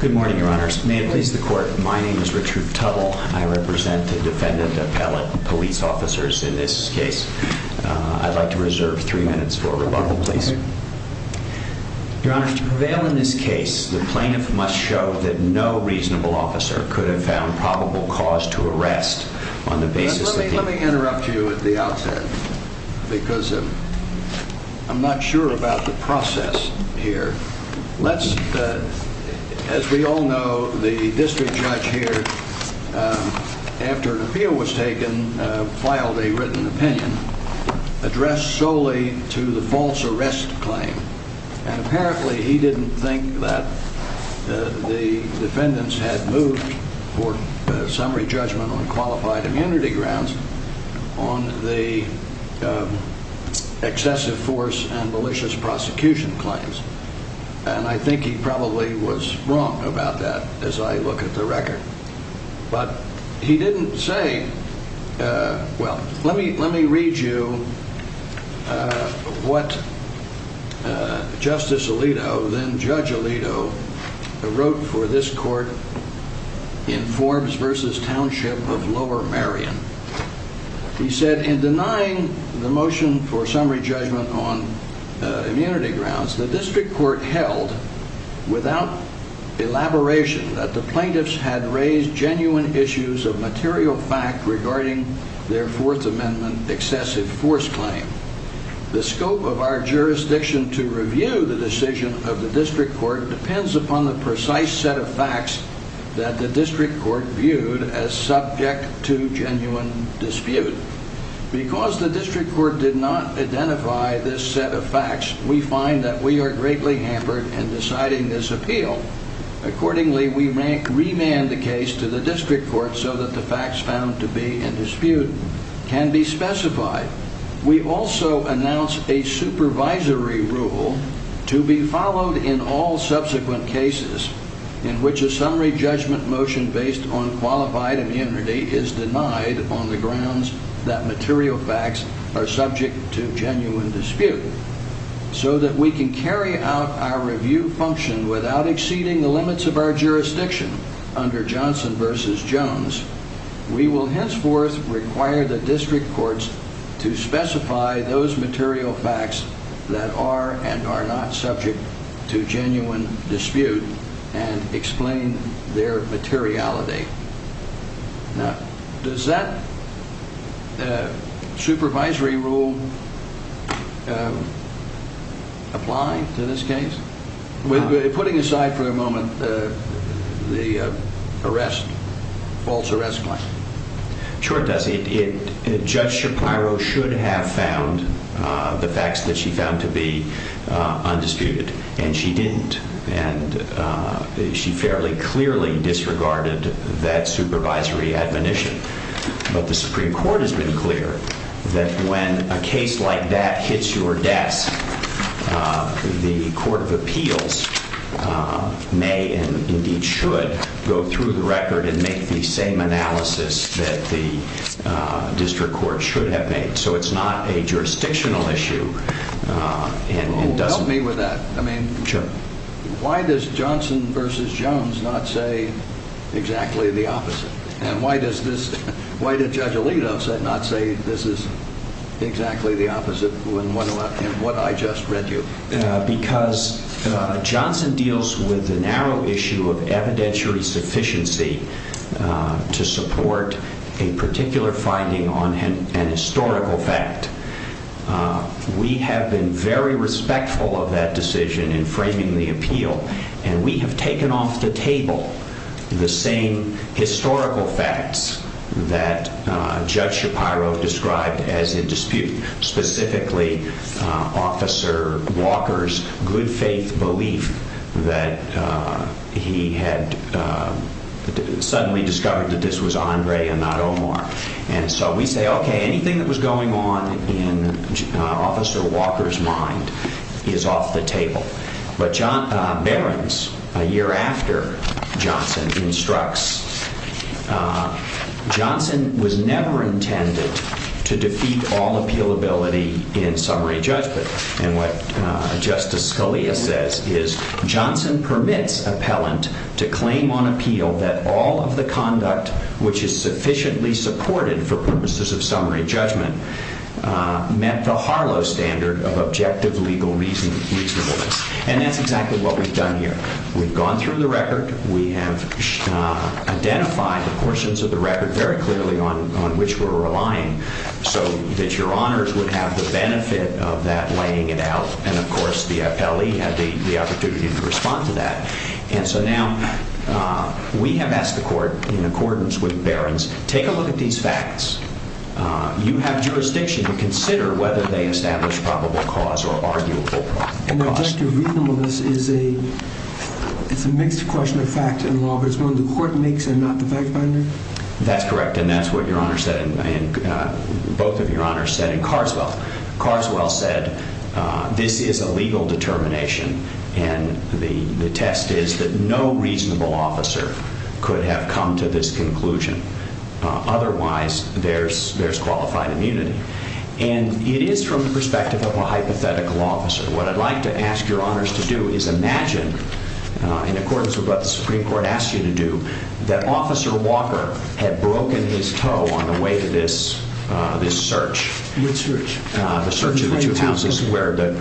Good morning, your honors. May it please the court, my name is Richard Tubble. I represent the defendant appellate police officers in this case. I'd like to reserve three minutes for rebuttal, please. Your honors, to prevail in this case, the plaintiff must show that no reasonable officer could have found probable cause to arrest on the basis of... because I'm not sure about the process here. Let's, as we all know, the district judge here, after an appeal was taken, filed a written opinion addressed solely to the false arrest claim. And apparently he didn't think that the defendants had moved for summary judgment on qualified immunity grounds on the excessive force and malicious prosecution claims. And I think he probably was wrong about that as I look at the record. But he didn't say, well, let me read you what Justice Alito, then Judge Alito, wrote for this court in Forbes v. Township of Lower Marion. He said, in denying the motion for summary judgment on immunity grounds, the district court held without elaboration that the plaintiffs had raised genuine issues of material fact regarding their Fourth Amendment excessive force claim. The scope of our jurisdiction to review the decision of the district court depends upon the precise set of facts that the district court viewed as subject to genuine dispute. Because the district court did not identify this set of facts, we find that we are greatly hampered in deciding this appeal. Accordingly, we remand the case to the district court so that the facts found to be in dispute can be specified. We also announce a supervisory rule to be followed in all subsequent cases in which a summary judgment motion based on qualified immunity is denied on the grounds that material facts are subject to genuine dispute. So that we can carry out our review function without exceeding the limits of our jurisdiction under Johnson v. Jones, we will henceforth require the district courts to specify those material facts that are and explain their materiality. Now, does that supervisory rule apply to this case? Putting aside for a moment the arrest, false arrest claim. Sure it does. Judge Shapiro should have found the facts that she found to be undisputed. And she didn't. And she fairly clearly disregarded that supervisory admonition. But the Supreme Court has been clear that when a case like that hits your desk, the Court of Appeals may and indeed should go through the record and make the same analysis that the district court should have made. So it's not a jurisdictional issue. Help me with that. I mean, why does Johnson v. Jones not say exactly the opposite? And why does Judge Alito not say this is exactly the opposite of what I just read you? Because Johnson deals with the narrow issue of evidentiary sufficiency to support a particular finding on an historical fact. We have been very respectful of that decision in framing the appeal, and we have taken off the table the same historical facts that Judge Shapiro described as in dispute, specifically Officer Walker's good faith belief that he had suddenly discovered that this was Andre and not Omar. And so we say, OK, anything that was going on in Officer Walker's mind is off the table. But Barron's, a year after Johnson, instructs Johnson was never intended to defeat all appealability in summary judgment. And what Justice Scalia says is Johnson permits appellant to claim on appeal that all of the conduct which is sufficiently supported for purposes of summary judgment met the Harlow standard of objective legal reasonableness. And that's exactly what we've done here. We've gone through the record. We have identified the portions of the record very clearly on which we're relying so that your honors would have the benefit of that laying it out. And of course, the appellee had the opportunity to respond to that. And so now we have asked the court in accordance with Barron's, take a look at these facts. You have jurisdiction to consider whether they establish probable cause or arguable cause. And objective reasonableness is a mixed question of fact and law, but it's one the court makes and not the fact finder? That's correct. And that's what your honor said. And both of your honors said in Carswell. Carswell said this is a legal determination. And the test is that no reasonable officer could have come to this conclusion. Otherwise, there's qualified immunity. And it is from the perspective of a hypothetical officer. What I'd like to ask your honors to do is imagine in accordance with what the Supreme Court asked you to do, that Officer Walker had broken his toe on the way to this search. What search? The search of the two houses where the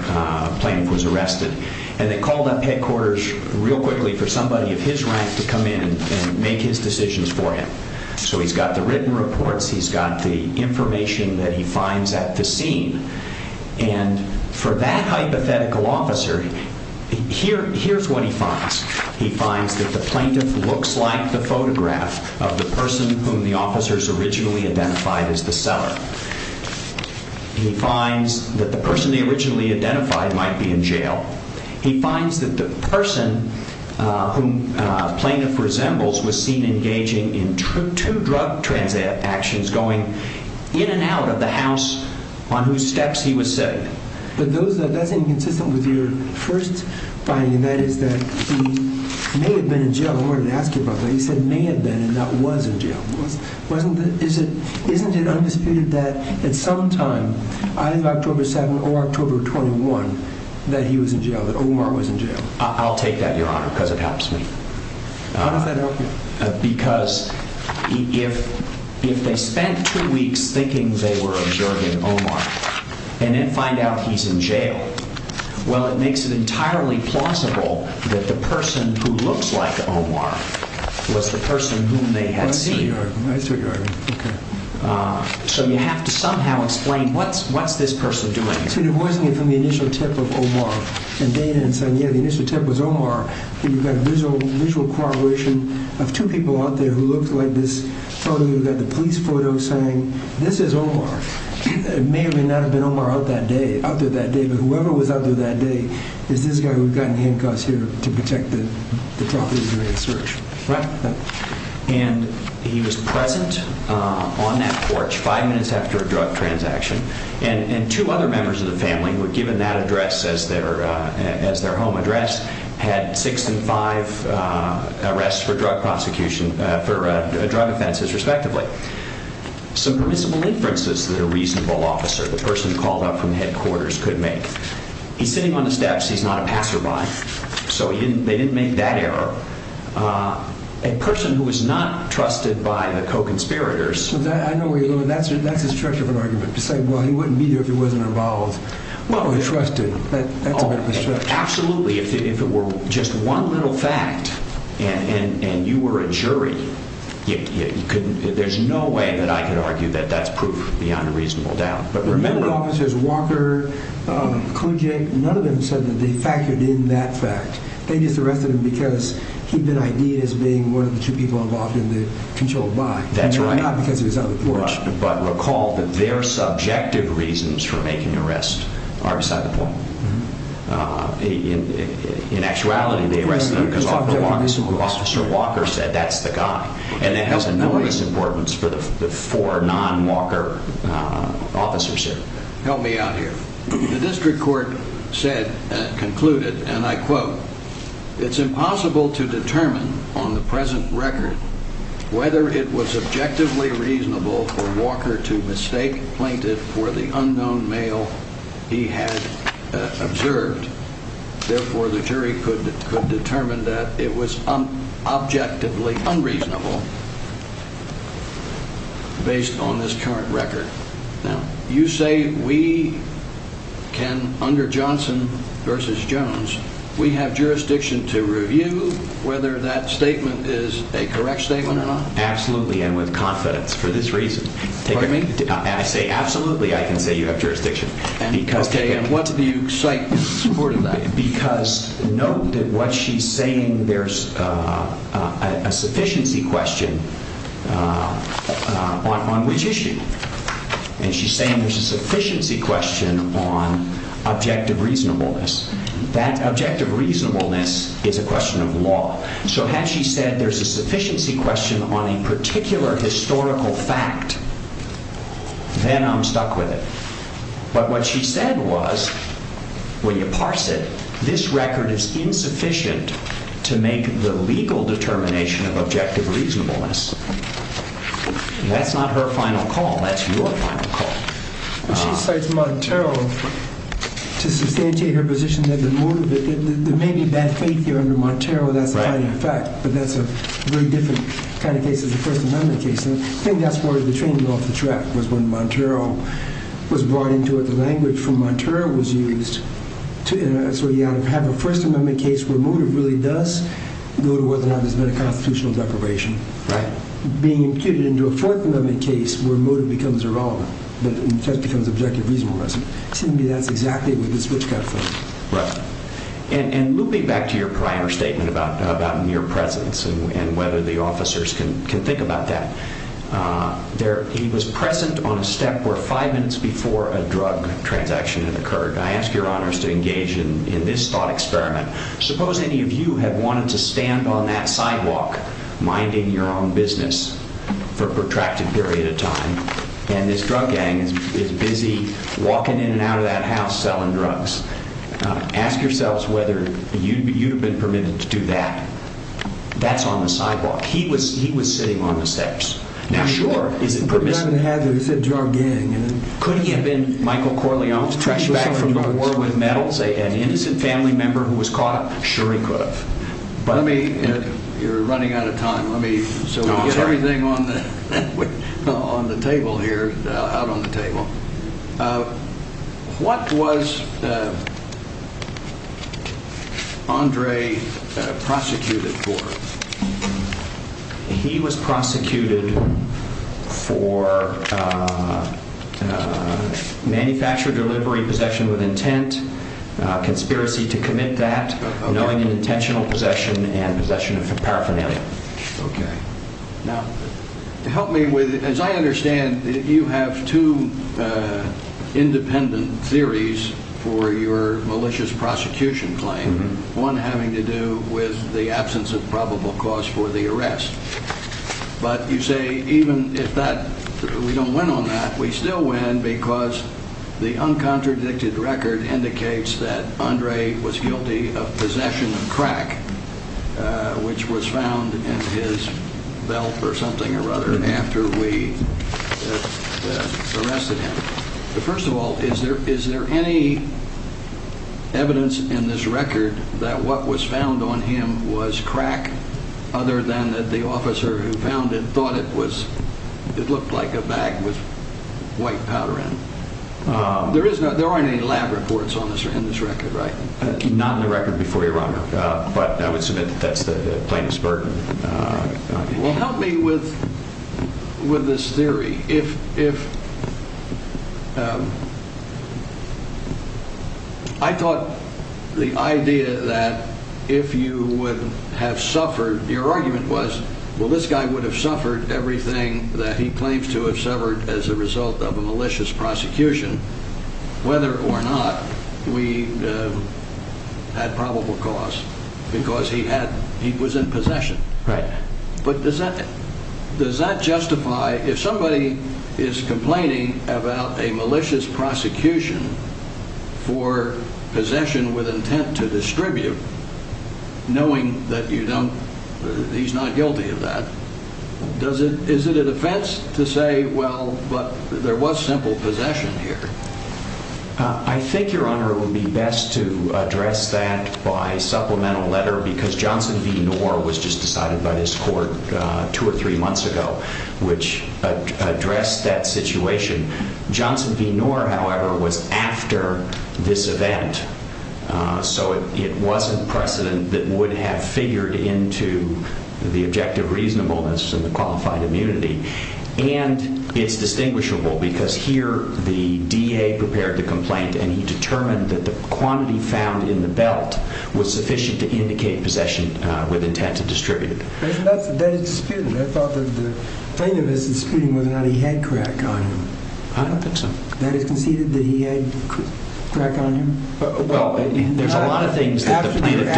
plaintiff was arrested. And they called up headquarters real quickly for somebody of his rank to come in and make his decisions for him. So he's got the written reports. He's got the information that he finds at the scene. And for that hypothetical officer, here's what he finds. He finds that the plaintiff looks like the photograph of the person whom the officers originally identified as the seller. He finds that the person they originally identified might be in jail. He finds that the person whom plaintiff resembles was seen engaging in two drug transactions and was going in and out of the house on whose steps he was sitting. But that's inconsistent with your first finding, and that is that he may have been in jail. I wanted to ask you about that. You said may have been and not was in jail. Isn't it undisputed that at some time, either October 7 or October 21, that he was in jail, that Omar was in jail? I'll take that, Your Honor, because it helps me. How does that help you? Because if they spent two weeks thinking they were observing Omar and then find out he's in jail, well, it makes it entirely plausible that the person who looks like Omar was the person whom they had seen. That's what you're arguing. Okay. So you have to somehow explain what's this person doing here. So you're voicing it from the initial tip of Omar and Dana and saying, yeah, the initial tip was Omar. You've got a visual correlation of two people out there who looked like this photo. You've got the police photo saying this is Omar. It may or may not have been Omar out there that day. But whoever was out there that day is this guy who had gotten handcuffs here to protect the property during the search. Right. And he was present on that porch five minutes after a drug transaction. And two other members of the family were given that address as their home address, had six and five arrests for drug offenses, respectively. Some permissible inferences that a reasonable officer, the person called up from headquarters, could make. He's sitting on the steps. He's not a passerby. So they didn't make that error. A person who was not trusted by the co-conspirators. I know where you're going. That's the structure of an argument. To say, well, he wouldn't be here if he wasn't involved or trusted. That's a bit of a stretch. Absolutely. If it were just one little fact and you were a jury, there's no way that I could argue that that's proof beyond a reasonable doubt. But remember. The medical officers, Walker, Kluge, none of them said that they factored in that fact. They just arrested him because he'd been ID'd as being one of the two people involved in the controlled buy. That's right. Not because he was on the porch. But recall that their subjective reasons for making the arrest are beside the point. In actuality, they arrested him because Officer Walker said that's the guy. And that has enormous importance for the four non-Walker officers here. Help me out here. The district court said, concluded, and I quote, It's impossible to determine on the present record whether it was objectively reasonable for Walker to mistake plaintiff for the unknown male he had observed. Therefore, the jury could determine that it was objectively unreasonable based on this current record. Now, you say we can, under Johnson versus Jones, we have jurisdiction to review whether that statement is a correct statement or not? Absolutely. And with confidence for this reason. Pardon me? I say absolutely. I can say you have jurisdiction. Okay. And what do you cite supporting that? Because note that what she's saying, there's a sufficiency question on which issue. And she's saying there's a sufficiency question on objective reasonableness. That objective reasonableness is a question of law. So had she said there's a sufficiency question on a particular historical fact, then I'm stuck with it. But what she said was, when you parse it, this record is insufficient to make the legal determination of objective reasonableness. That's not her final call. That's your final call. She cites Montero to substantiate her position that there may be bad faith here under Montero. That's a fact. But that's a very different kind of case than the First Amendment case. I think that's where the train blew off the track, was when Montero was brought into it. The language from Montero was used. So you have a First Amendment case where motive really does go to whether or not there's been a constitutional deprivation. Right. Being imputed into a Fourth Amendment case where motive becomes irrelevant, but in effect becomes objective reasonableness. To me, that's exactly what this witchcraft is. Right. And looping back to your prior statement about mere presence and whether the officers can think about that, he was present on a step where five minutes before a drug transaction had occurred. I ask your honors to engage in this thought experiment. Suppose any of you had wanted to stand on that sidewalk minding your own business for a protracted period of time, and this drug gang is busy walking in and out of that house selling drugs. Ask yourselves whether you'd have been permitted to do that. That's on the sidewalk. He was sitting on the steps. Now, sure, is it permissible? He said drug gang. Could he have been Michael Corleone's trash bag from the war with metals? An innocent family member who was caught? Sure he could have. You're running out of time. Let me get everything on the table here, out on the table. What was Andre prosecuted for? He was prosecuted for manufacture, delivery, possession with intent, conspiracy to commit that, knowing and intentional possession, and possession of paraphernalia. Okay. Now, help me with it. As I understand, you have two independent theories for your malicious prosecution claim, one having to do with the absence of probable cause for the arrest. But you say even if we don't win on that, we still win because the uncontradicted record indicates that Andre was guilty of possession of crack, which was found in his belt or something or other after we arrested him. First of all, is there any evidence in this record that what was found on him was crack other than that the officer who found it thought it looked like a bag with white powder in it? There aren't any lab reports in this record, right? Not in the record before you, Your Honor. But I would submit that that's the plaintiff's burden. Well, help me with this theory. I thought the idea that if you would have suffered, your argument was, well, this guy would have suffered everything that he claims to have suffered as a result of a malicious prosecution, whether or not we had probable cause because he was in possession. Right. But does that justify, if somebody is complaining about a malicious prosecution for possession with intent to distribute, knowing that you don't, he's not guilty of that. Does it? Is it a defense to say, well, but there was simple possession here? I think, Your Honor, it would be best to address that by supplemental letter because Johnson v. Nor was just decided by this court two or three months ago, which addressed that situation. Johnson v. Nor, however, was after this event. So it wasn't precedent that would have figured into the objective reasonableness and the qualified immunity. And it's distinguishable because here the DA prepared the complaint, and he determined that the quantity found in the belt was sufficient to indicate possession with intent to distribute. That is disputed. I thought that the plaintiff is disputing whether or not he had crack on him. I don't think so. That is conceded that he had crack on him? Well, there's a lot of things that the plaintiff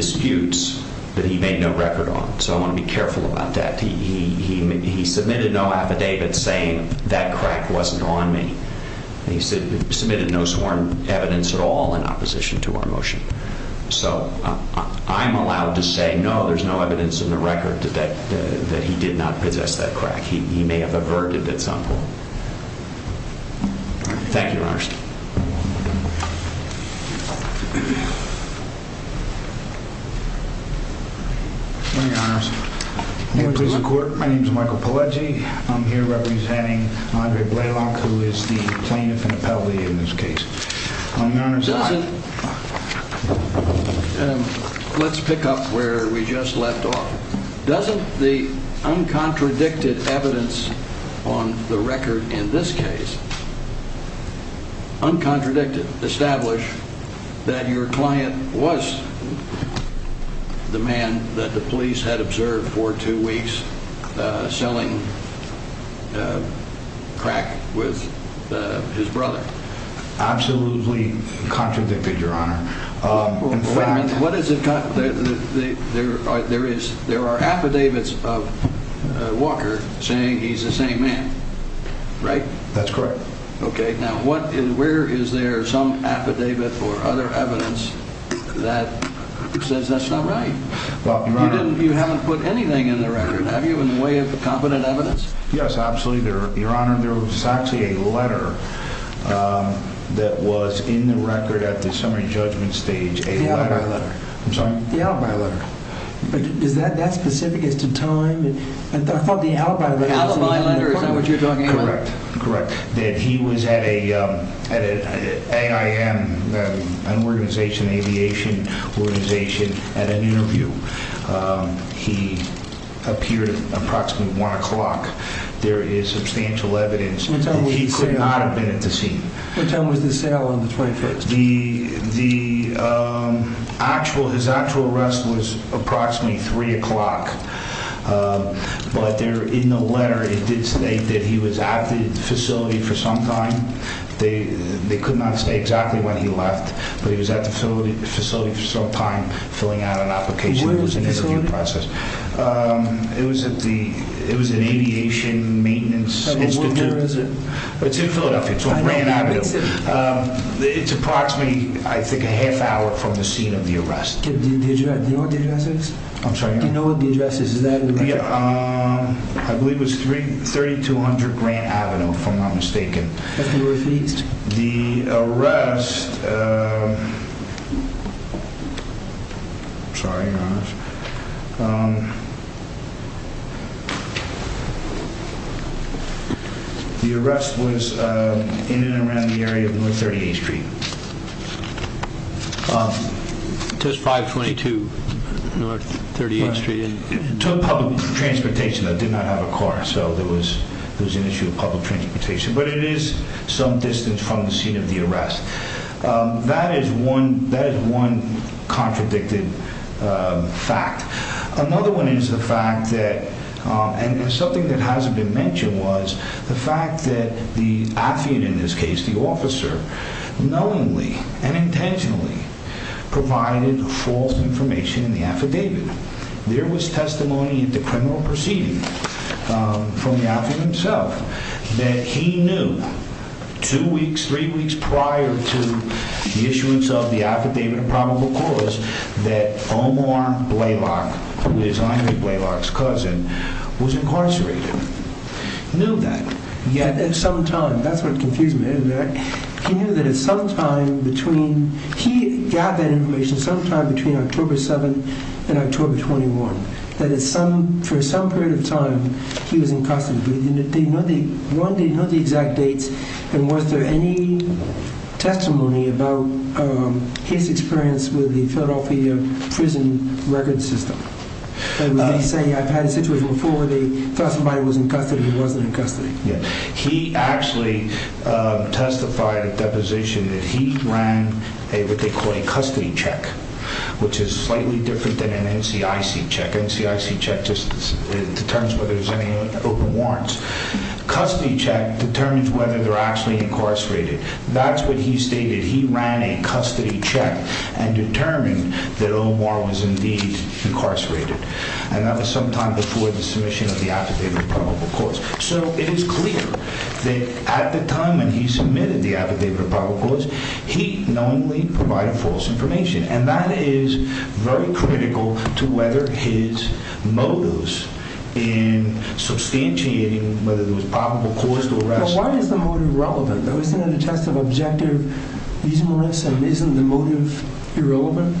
disputes that he made no record on. So I want to be careful about that. He submitted no affidavit saying that crack wasn't on me. He submitted no sworn evidence at all in opposition to our motion. So I'm allowed to say, no, there's no evidence in the record that he did not possess that crack. He may have averted it somehow. Thank you, Your Honors. Good morning, Your Honors. Good morning to the court. My name is Michael Pileggi. I'm here representing Andre Blalock, who is the plaintiff and appellee in this case. Let's pick up where we just left off. Doesn't the uncontradicted evidence on the record in this case, uncontradicted, establish that your client was the man that the police had observed for two weeks selling crack with his brother? Absolutely contradicted, Your Honor. Wait a minute. There are affidavits of Walker saying he's the same man, right? That's correct. Okay. Now, where is there some affidavit or other evidence that says that's not right? You haven't put anything in the record, have you, in the way of competent evidence? Yes, absolutely, Your Honor. There was actually a letter that was in the record at the summary judgment stage. The alibi letter. I'm sorry? The alibi letter. But is that specific as to time? I thought the alibi letter was important. The alibi letter is not what you're talking about. Correct. Correct. That he was at an AIM, an organization, aviation organization, at an interview. He appeared at approximately 1 o'clock. There is substantial evidence that he could not have been at the scene. What time was the sale on the 21st? His actual arrest was approximately 3 o'clock. But in the letter, it did state that he was at the facility for some time. They could not say exactly when he left, but he was at the facility for some time, Where was the facility? It was at the Aviation Maintenance Institute. What year is it? It's in Philadelphia. It's on Grant Avenue. It's approximately, I think, a half hour from the scene of the arrest. Do you know what the address is? I'm sorry, Your Honor? Do you know what the address is? I believe it was 3200 Grant Avenue, if I'm not mistaken. The arrest... I'm sorry, Your Honor. The arrest was in and around the area of North 38th Street. It says 522 North 38th Street. It took public transportation. They did not have a car, so there was an issue of public transportation. But it is some distance from the scene of the arrest. That is one contradicted fact. Another one is the fact that, and something that hasn't been mentioned, was the fact that the affidavit, in this case the officer, knowingly and intentionally provided false information in the affidavit. There was testimony at the criminal proceeding from the affidavit himself that he knew two weeks, three weeks prior to the issuance of the affidavit of probable cause that Omar Blaylock, who is Aynur Blaylock's cousin, was incarcerated. He knew that at some time. That's what confused me. He knew that at some time between... He got that information sometime between October 7th and October 21st. That for some period of time, he was in custody. They didn't know the exact dates. And was there any testimony about his experience with the Philadelphia prison record system? Did he say, I've had a situation before where they thought somebody was in custody who wasn't in custody? He actually testified at deposition that he ran what they call a custody check, which is slightly different than an NCIC check. NCIC check just determines whether there's any open warrants. Custody check determines whether they're actually incarcerated. That's what he stated. He ran a custody check and determined that Omar was indeed incarcerated. And that was sometime before the submission of the affidavit of probable cause. So it is clear that at the time when he submitted the affidavit of probable cause, he knowingly provided false information. And that is very critical to whether his motives in substantiating whether there was probable cause to arrest him. Now, why is the motive relevant? There was another test of objective reasonableness, and isn't the motive irrelevant?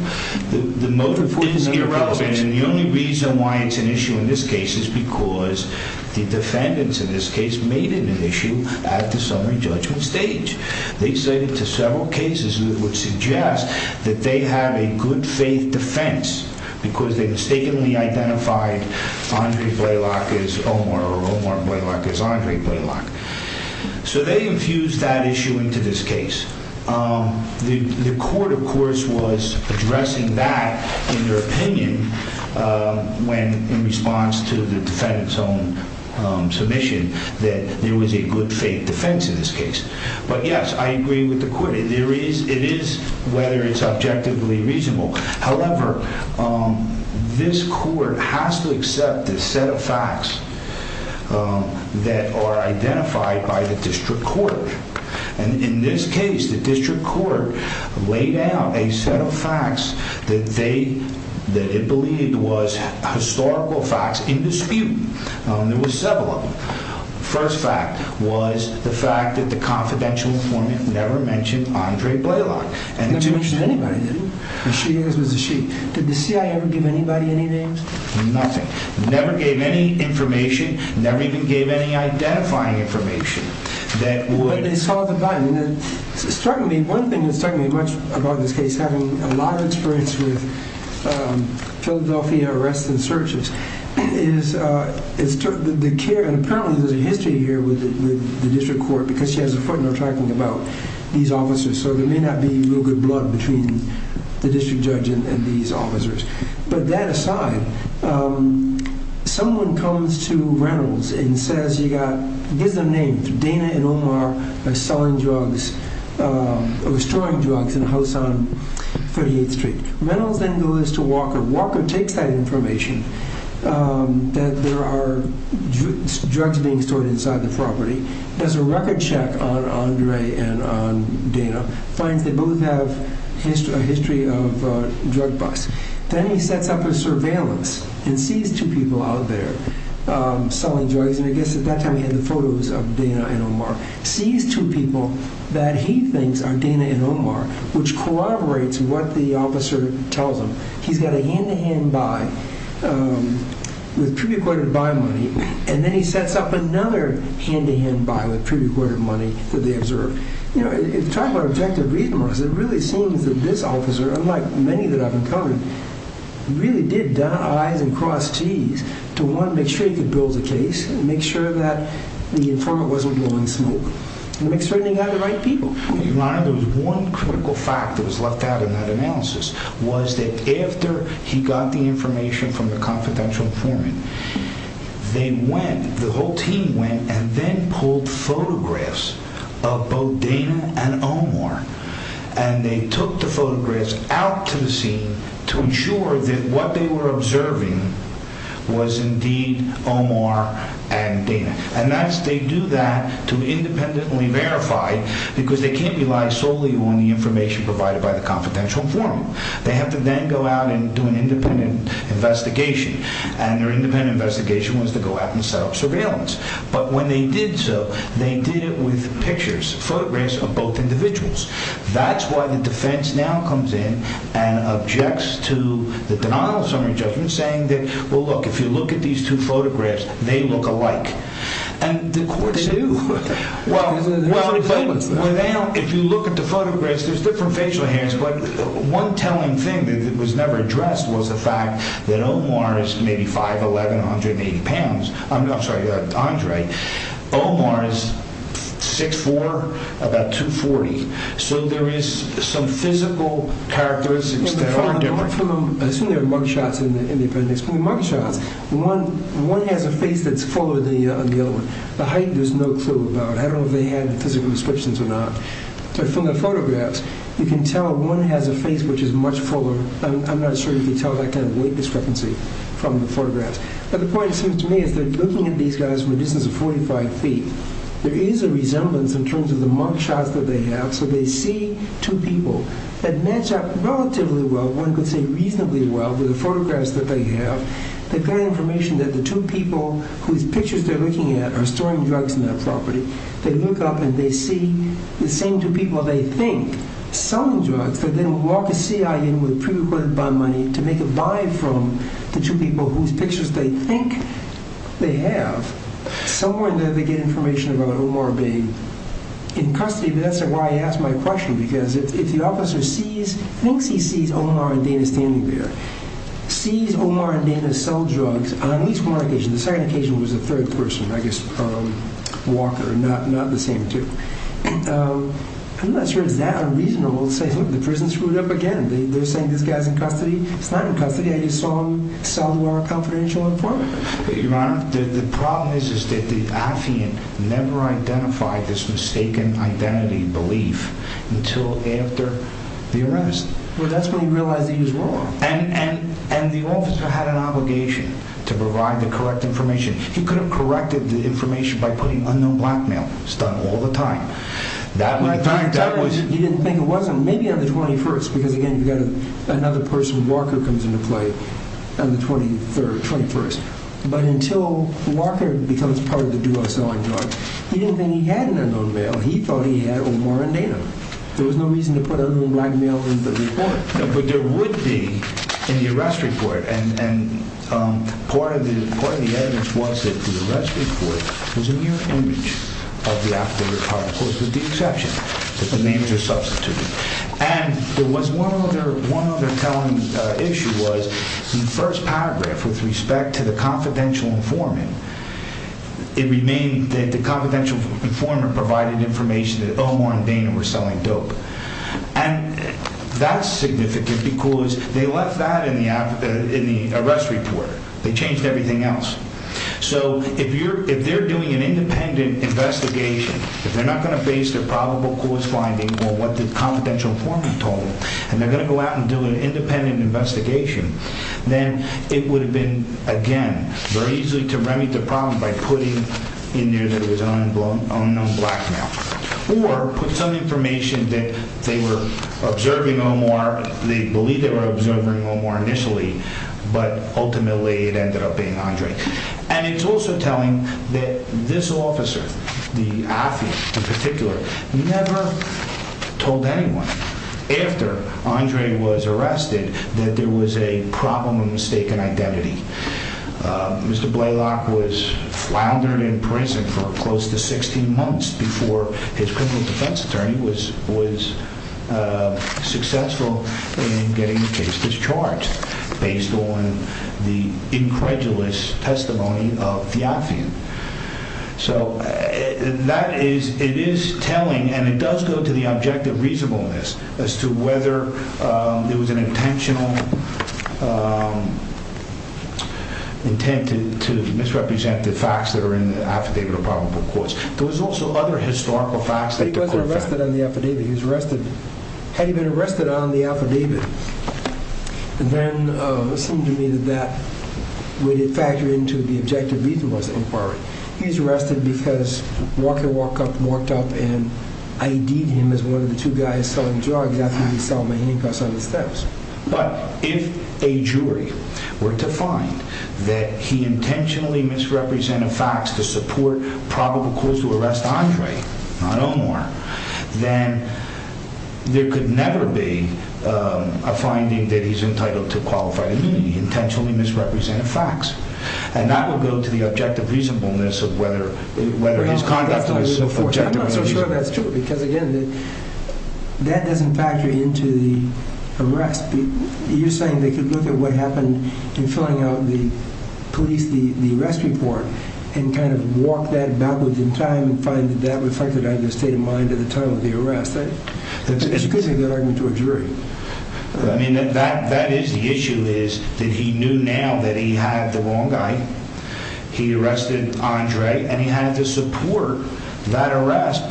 The motive is irrelevant. And the only reason why it's an issue in this case is because the defendants in this case made it an issue at the summary judgment stage. They say to several cases that would suggest that they have a good faith defense because they mistakenly identified Andre Blaylock as Omar, or Omar Blaylock as Andre Blaylock. So they infused that issue into this case. The court, of course, was addressing that in their opinion when, in response to the defendant's own submission, that there was a good faith defense in this case. But, yes, I agree with the court. It is whether it's objectively reasonable. However, this court has to accept the set of facts that are identified by the district court. And in this case, the district court laid out a set of facts that it believed was historical facts in dispute. There were several of them. The first fact was the fact that the confidential informant never mentioned Andre Blaylock. He never mentioned anybody, did he? The she is was a she. Did the CIA ever give anybody any names? Nothing. Never gave any information. Never even gave any identifying information. But they saw the button. One thing that's struck me much about this case, having a lot of experience with Philadelphia arrests and searches, is the care, and apparently there's a history here with the district court, because she has a footnote talking about these officers. So there may not be real good blood between the district judge and these officers. But that aside, someone comes to Reynolds and says, he gives them names, Dana and Omar are selling drugs, or storing drugs in a house on 38th Street. Reynolds then goes to Walker. Walker takes that information that there are drugs being stored inside the property, does a record check on Andre and on Dana, finds they both have a history of drug busts. Then he sets up a surveillance and sees two people out there selling drugs, and I guess at that time he had the photos of Dana and Omar, sees two people that he thinks are Dana and Omar, which corroborates what the officer tells him. He's got a hand-to-hand buy with pre-recorded buy money, and then he sets up another hand-to-hand buy with pre-recorded money that they observed. You know, if you talk about objective reasonableness, it really seems that this officer, unlike many that I've encountered, really did eyes and cross cheese to, one, make sure he could build the case, make sure that the informant wasn't blowing smoke, and make sure he got the right people. Your Honor, there was one critical fact that was left out in that analysis, was that after he got the information from the confidential informant, they went, the whole team went, and then pulled photographs of both Dana and Omar, and they took the photographs out to the scene to ensure that what they were observing was indeed Omar and Dana. And that's, they do that to independently verify, because they can't rely solely on the information provided by the confidential informant. They have to then go out and do an independent investigation, and their independent investigation was to go out and set up surveillance. But when they did so, they did it with pictures, photographs of both individuals. That's why the defense now comes in and objects to the denial of summary judgment, saying that, well, look, if you look at these two photographs, they look alike. They do. Well, if you look at the photographs, there's different facial hairs, but one telling thing that was never addressed was the fact that Omar is maybe 5'11", 180 pounds. I'm sorry, Andre. Omar is 6'4", about 240. So there is some physical characteristics that are different. I assume there are mug shots in the appendix. From the mug shots, one has a face that's fuller than the other one. The height, there's no clue about. I don't know if they had physical descriptions or not. But from the photographs, you can tell one has a face which is much fuller. I'm not sure if you can tell that kind of weight discrepancy from the photographs. But the point, it seems to me, is that looking at these guys from a distance of 45 feet, there is a resemblance in terms of the mug shots that they have. So they see two people that match up relatively well. One could say reasonably well with the photographs that they have. They've got information that the two people whose pictures they're looking at are storing drugs in that property. They look up and they see the same two people they think selling drugs, but then walk a CI in with pre-recorded bond money to make a buy from the two people whose pictures they think they have. Somewhere in there, they get information about Omar being in custody. That's why I asked my question, because if the officer thinks he sees Omar and Dana standing there, sees Omar and Dana sell drugs on at least one occasion, the second occasion was a third person, I guess Walker, not the same two, I'm not sure it's that unreasonable to say, look, the prison screwed up again. They're saying this guy's in custody. He's not in custody. I just saw him sell to our confidential informant. Your Honor, the problem is that the affiant never identified this mistaken identity belief until after the arrest. Well, that's when he realized he was wrong. And the officer had an obligation to provide the correct information. He could have corrected the information by putting unknown blackmail. It's done all the time. He didn't think it was. Maybe on the 21st, because, again, you've got another person. Walker comes into play on the 23rd, 21st. But until Walker becomes part of the duo selling drugs, he didn't think he had an unknown male. He thought he had Omar and Dana. There was no reason to put unknown blackmail in the report. No, but there would be in the arrest report. And part of the evidence was that the arrest report was a mirror image of the affiant. With the exception that the names are substituted. And there was one other telling issue was the first paragraph with respect to the confidential informant. It remained that the confidential informant provided information that Omar and Dana were selling dope. And that's significant because they left that in the arrest report. They changed everything else. So if they're doing an independent investigation, if they're not going to base their probable cause finding on what the confidential informant told, and they're going to go out and do an independent investigation, then it would have been, again, very easy to remit the problem by putting in there that it was an unknown blackmail. Or put some information that they were observing Omar, they believed they were observing Omar initially, but ultimately it ended up being Andre. And it's also telling that this officer, the affiant in particular, never told anyone after Andre was arrested that there was a problem of mistaken identity. Mr. Blaylock was floundered in prison for close to 16 months before his criminal defense attorney was successful in getting the case discharged. Based on the incredulous testimony of the affiant. So that is, it is telling and it does go to the objective reasonableness as to whether it was an intentional intent to misrepresent the facts that are in the affidavit of probable cause. There was also other historical facts. He wasn't arrested on the affidavit, he was arrested, had he been arrested on the affidavit. And then it seemed to me that that would factor into the objective reasonableness inquiry. He's arrested because Walker walked up and ID'd him as one of the two guys selling drugs after he sold me handcuffs on the steps. But if a jury were to find that he intentionally misrepresented facts to support probable cause to arrest Andre, not Omar, then there could never be a finding that he's entitled to qualified immunity. He intentionally misrepresented facts. And that will go to the objective reasonableness of whether his conduct was objective or not. I'm not so sure that's true because again, that doesn't factor into the arrest. You're saying they could look at what happened in filling out the police, the arrest report, and kind of walk that backwards in time and find that that reflected on your state of mind at the time of the arrest. That's a good argument to a jury. I mean, that is the issue is that he knew now that he had the wrong guy. He arrested Andre and he had to support that arrest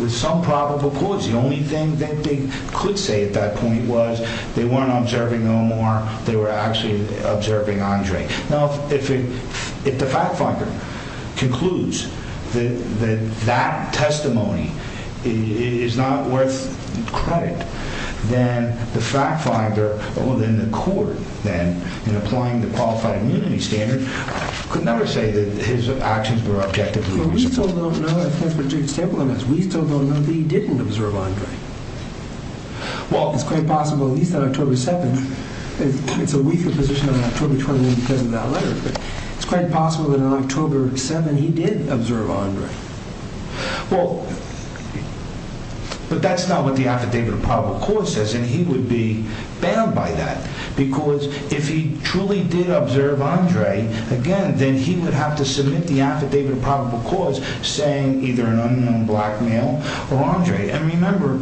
with some probable cause. The only thing that they could say at that point was they weren't observing Omar, they were actually observing Andre. Now, if the fact finder concludes that that testimony is not worth credit, then the fact finder or then the court then, in applying the qualified immunity standard, could never say that his actions were objectively responsible. But we still don't know if there's a stable evidence. We still don't know that he didn't observe Andre. Well, it's quite possible, at least on October 7th, it's a weaker position on October 21 because of that letter, but it's quite possible that on October 7th he did observe Andre. Well, but that's not what the affidavit of probable cause says and he would be banned by that because if he truly did observe Andre, again, then he would have to submit the affidavit of probable cause saying either an unknown black male or Andre. And remember,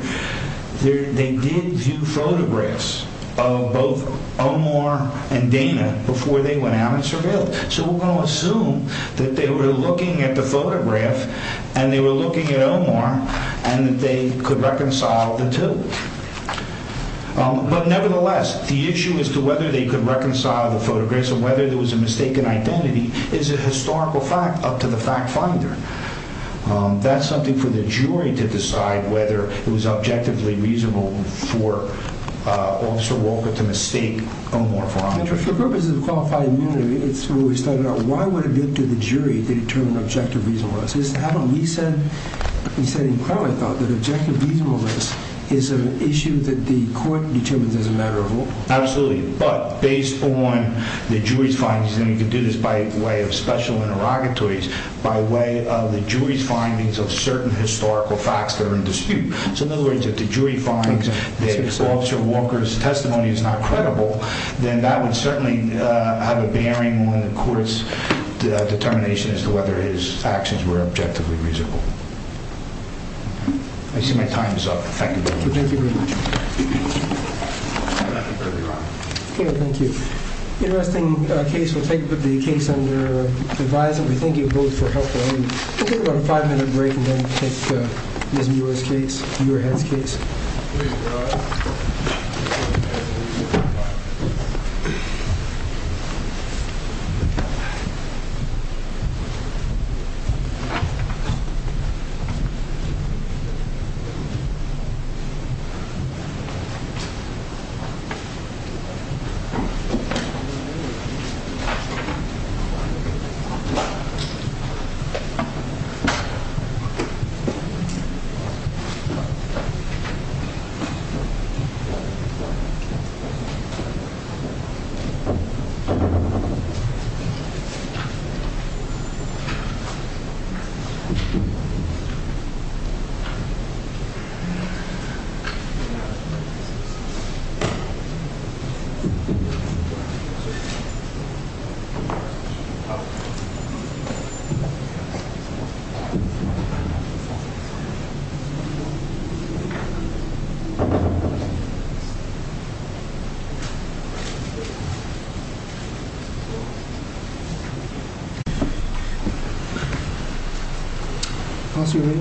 they did view photographs of both Omar and Dana before they went out and surveilled. So we're going to assume that they were looking at the photograph and they were looking at Omar and that they could reconcile the two. But nevertheless, the issue as to whether they could reconcile the photographs or whether there was a mistaken identity is a historical fact up to the fact finder. That's something for the jury to decide whether it was objectively reasonable for Officer Walker to mistake Omar for Andre. For purposes of qualifying immunity, it's where we started out. Why would it be up to the jury to determine objective reasonableness? He said in court, I thought, that objective reasonableness is an issue that the court determines as a matter of law. Absolutely, but based on the jury's findings, and you can do this by way of special interrogatories, by way of the jury's findings of certain historical facts that are in dispute. So in other words, if the jury finds that Officer Walker's testimony is not credible, then that would certainly have a bearing on the court's determination as to whether his actions were objectively reasonable. I see my time is up. Thank you very much. Thank you very much. Thank you. We have an interesting case. We'll take the case under advisory. Thank you both for helping. We'll take about a five-minute break and then take Ms. Muirhead's case. Ms. Muirhead.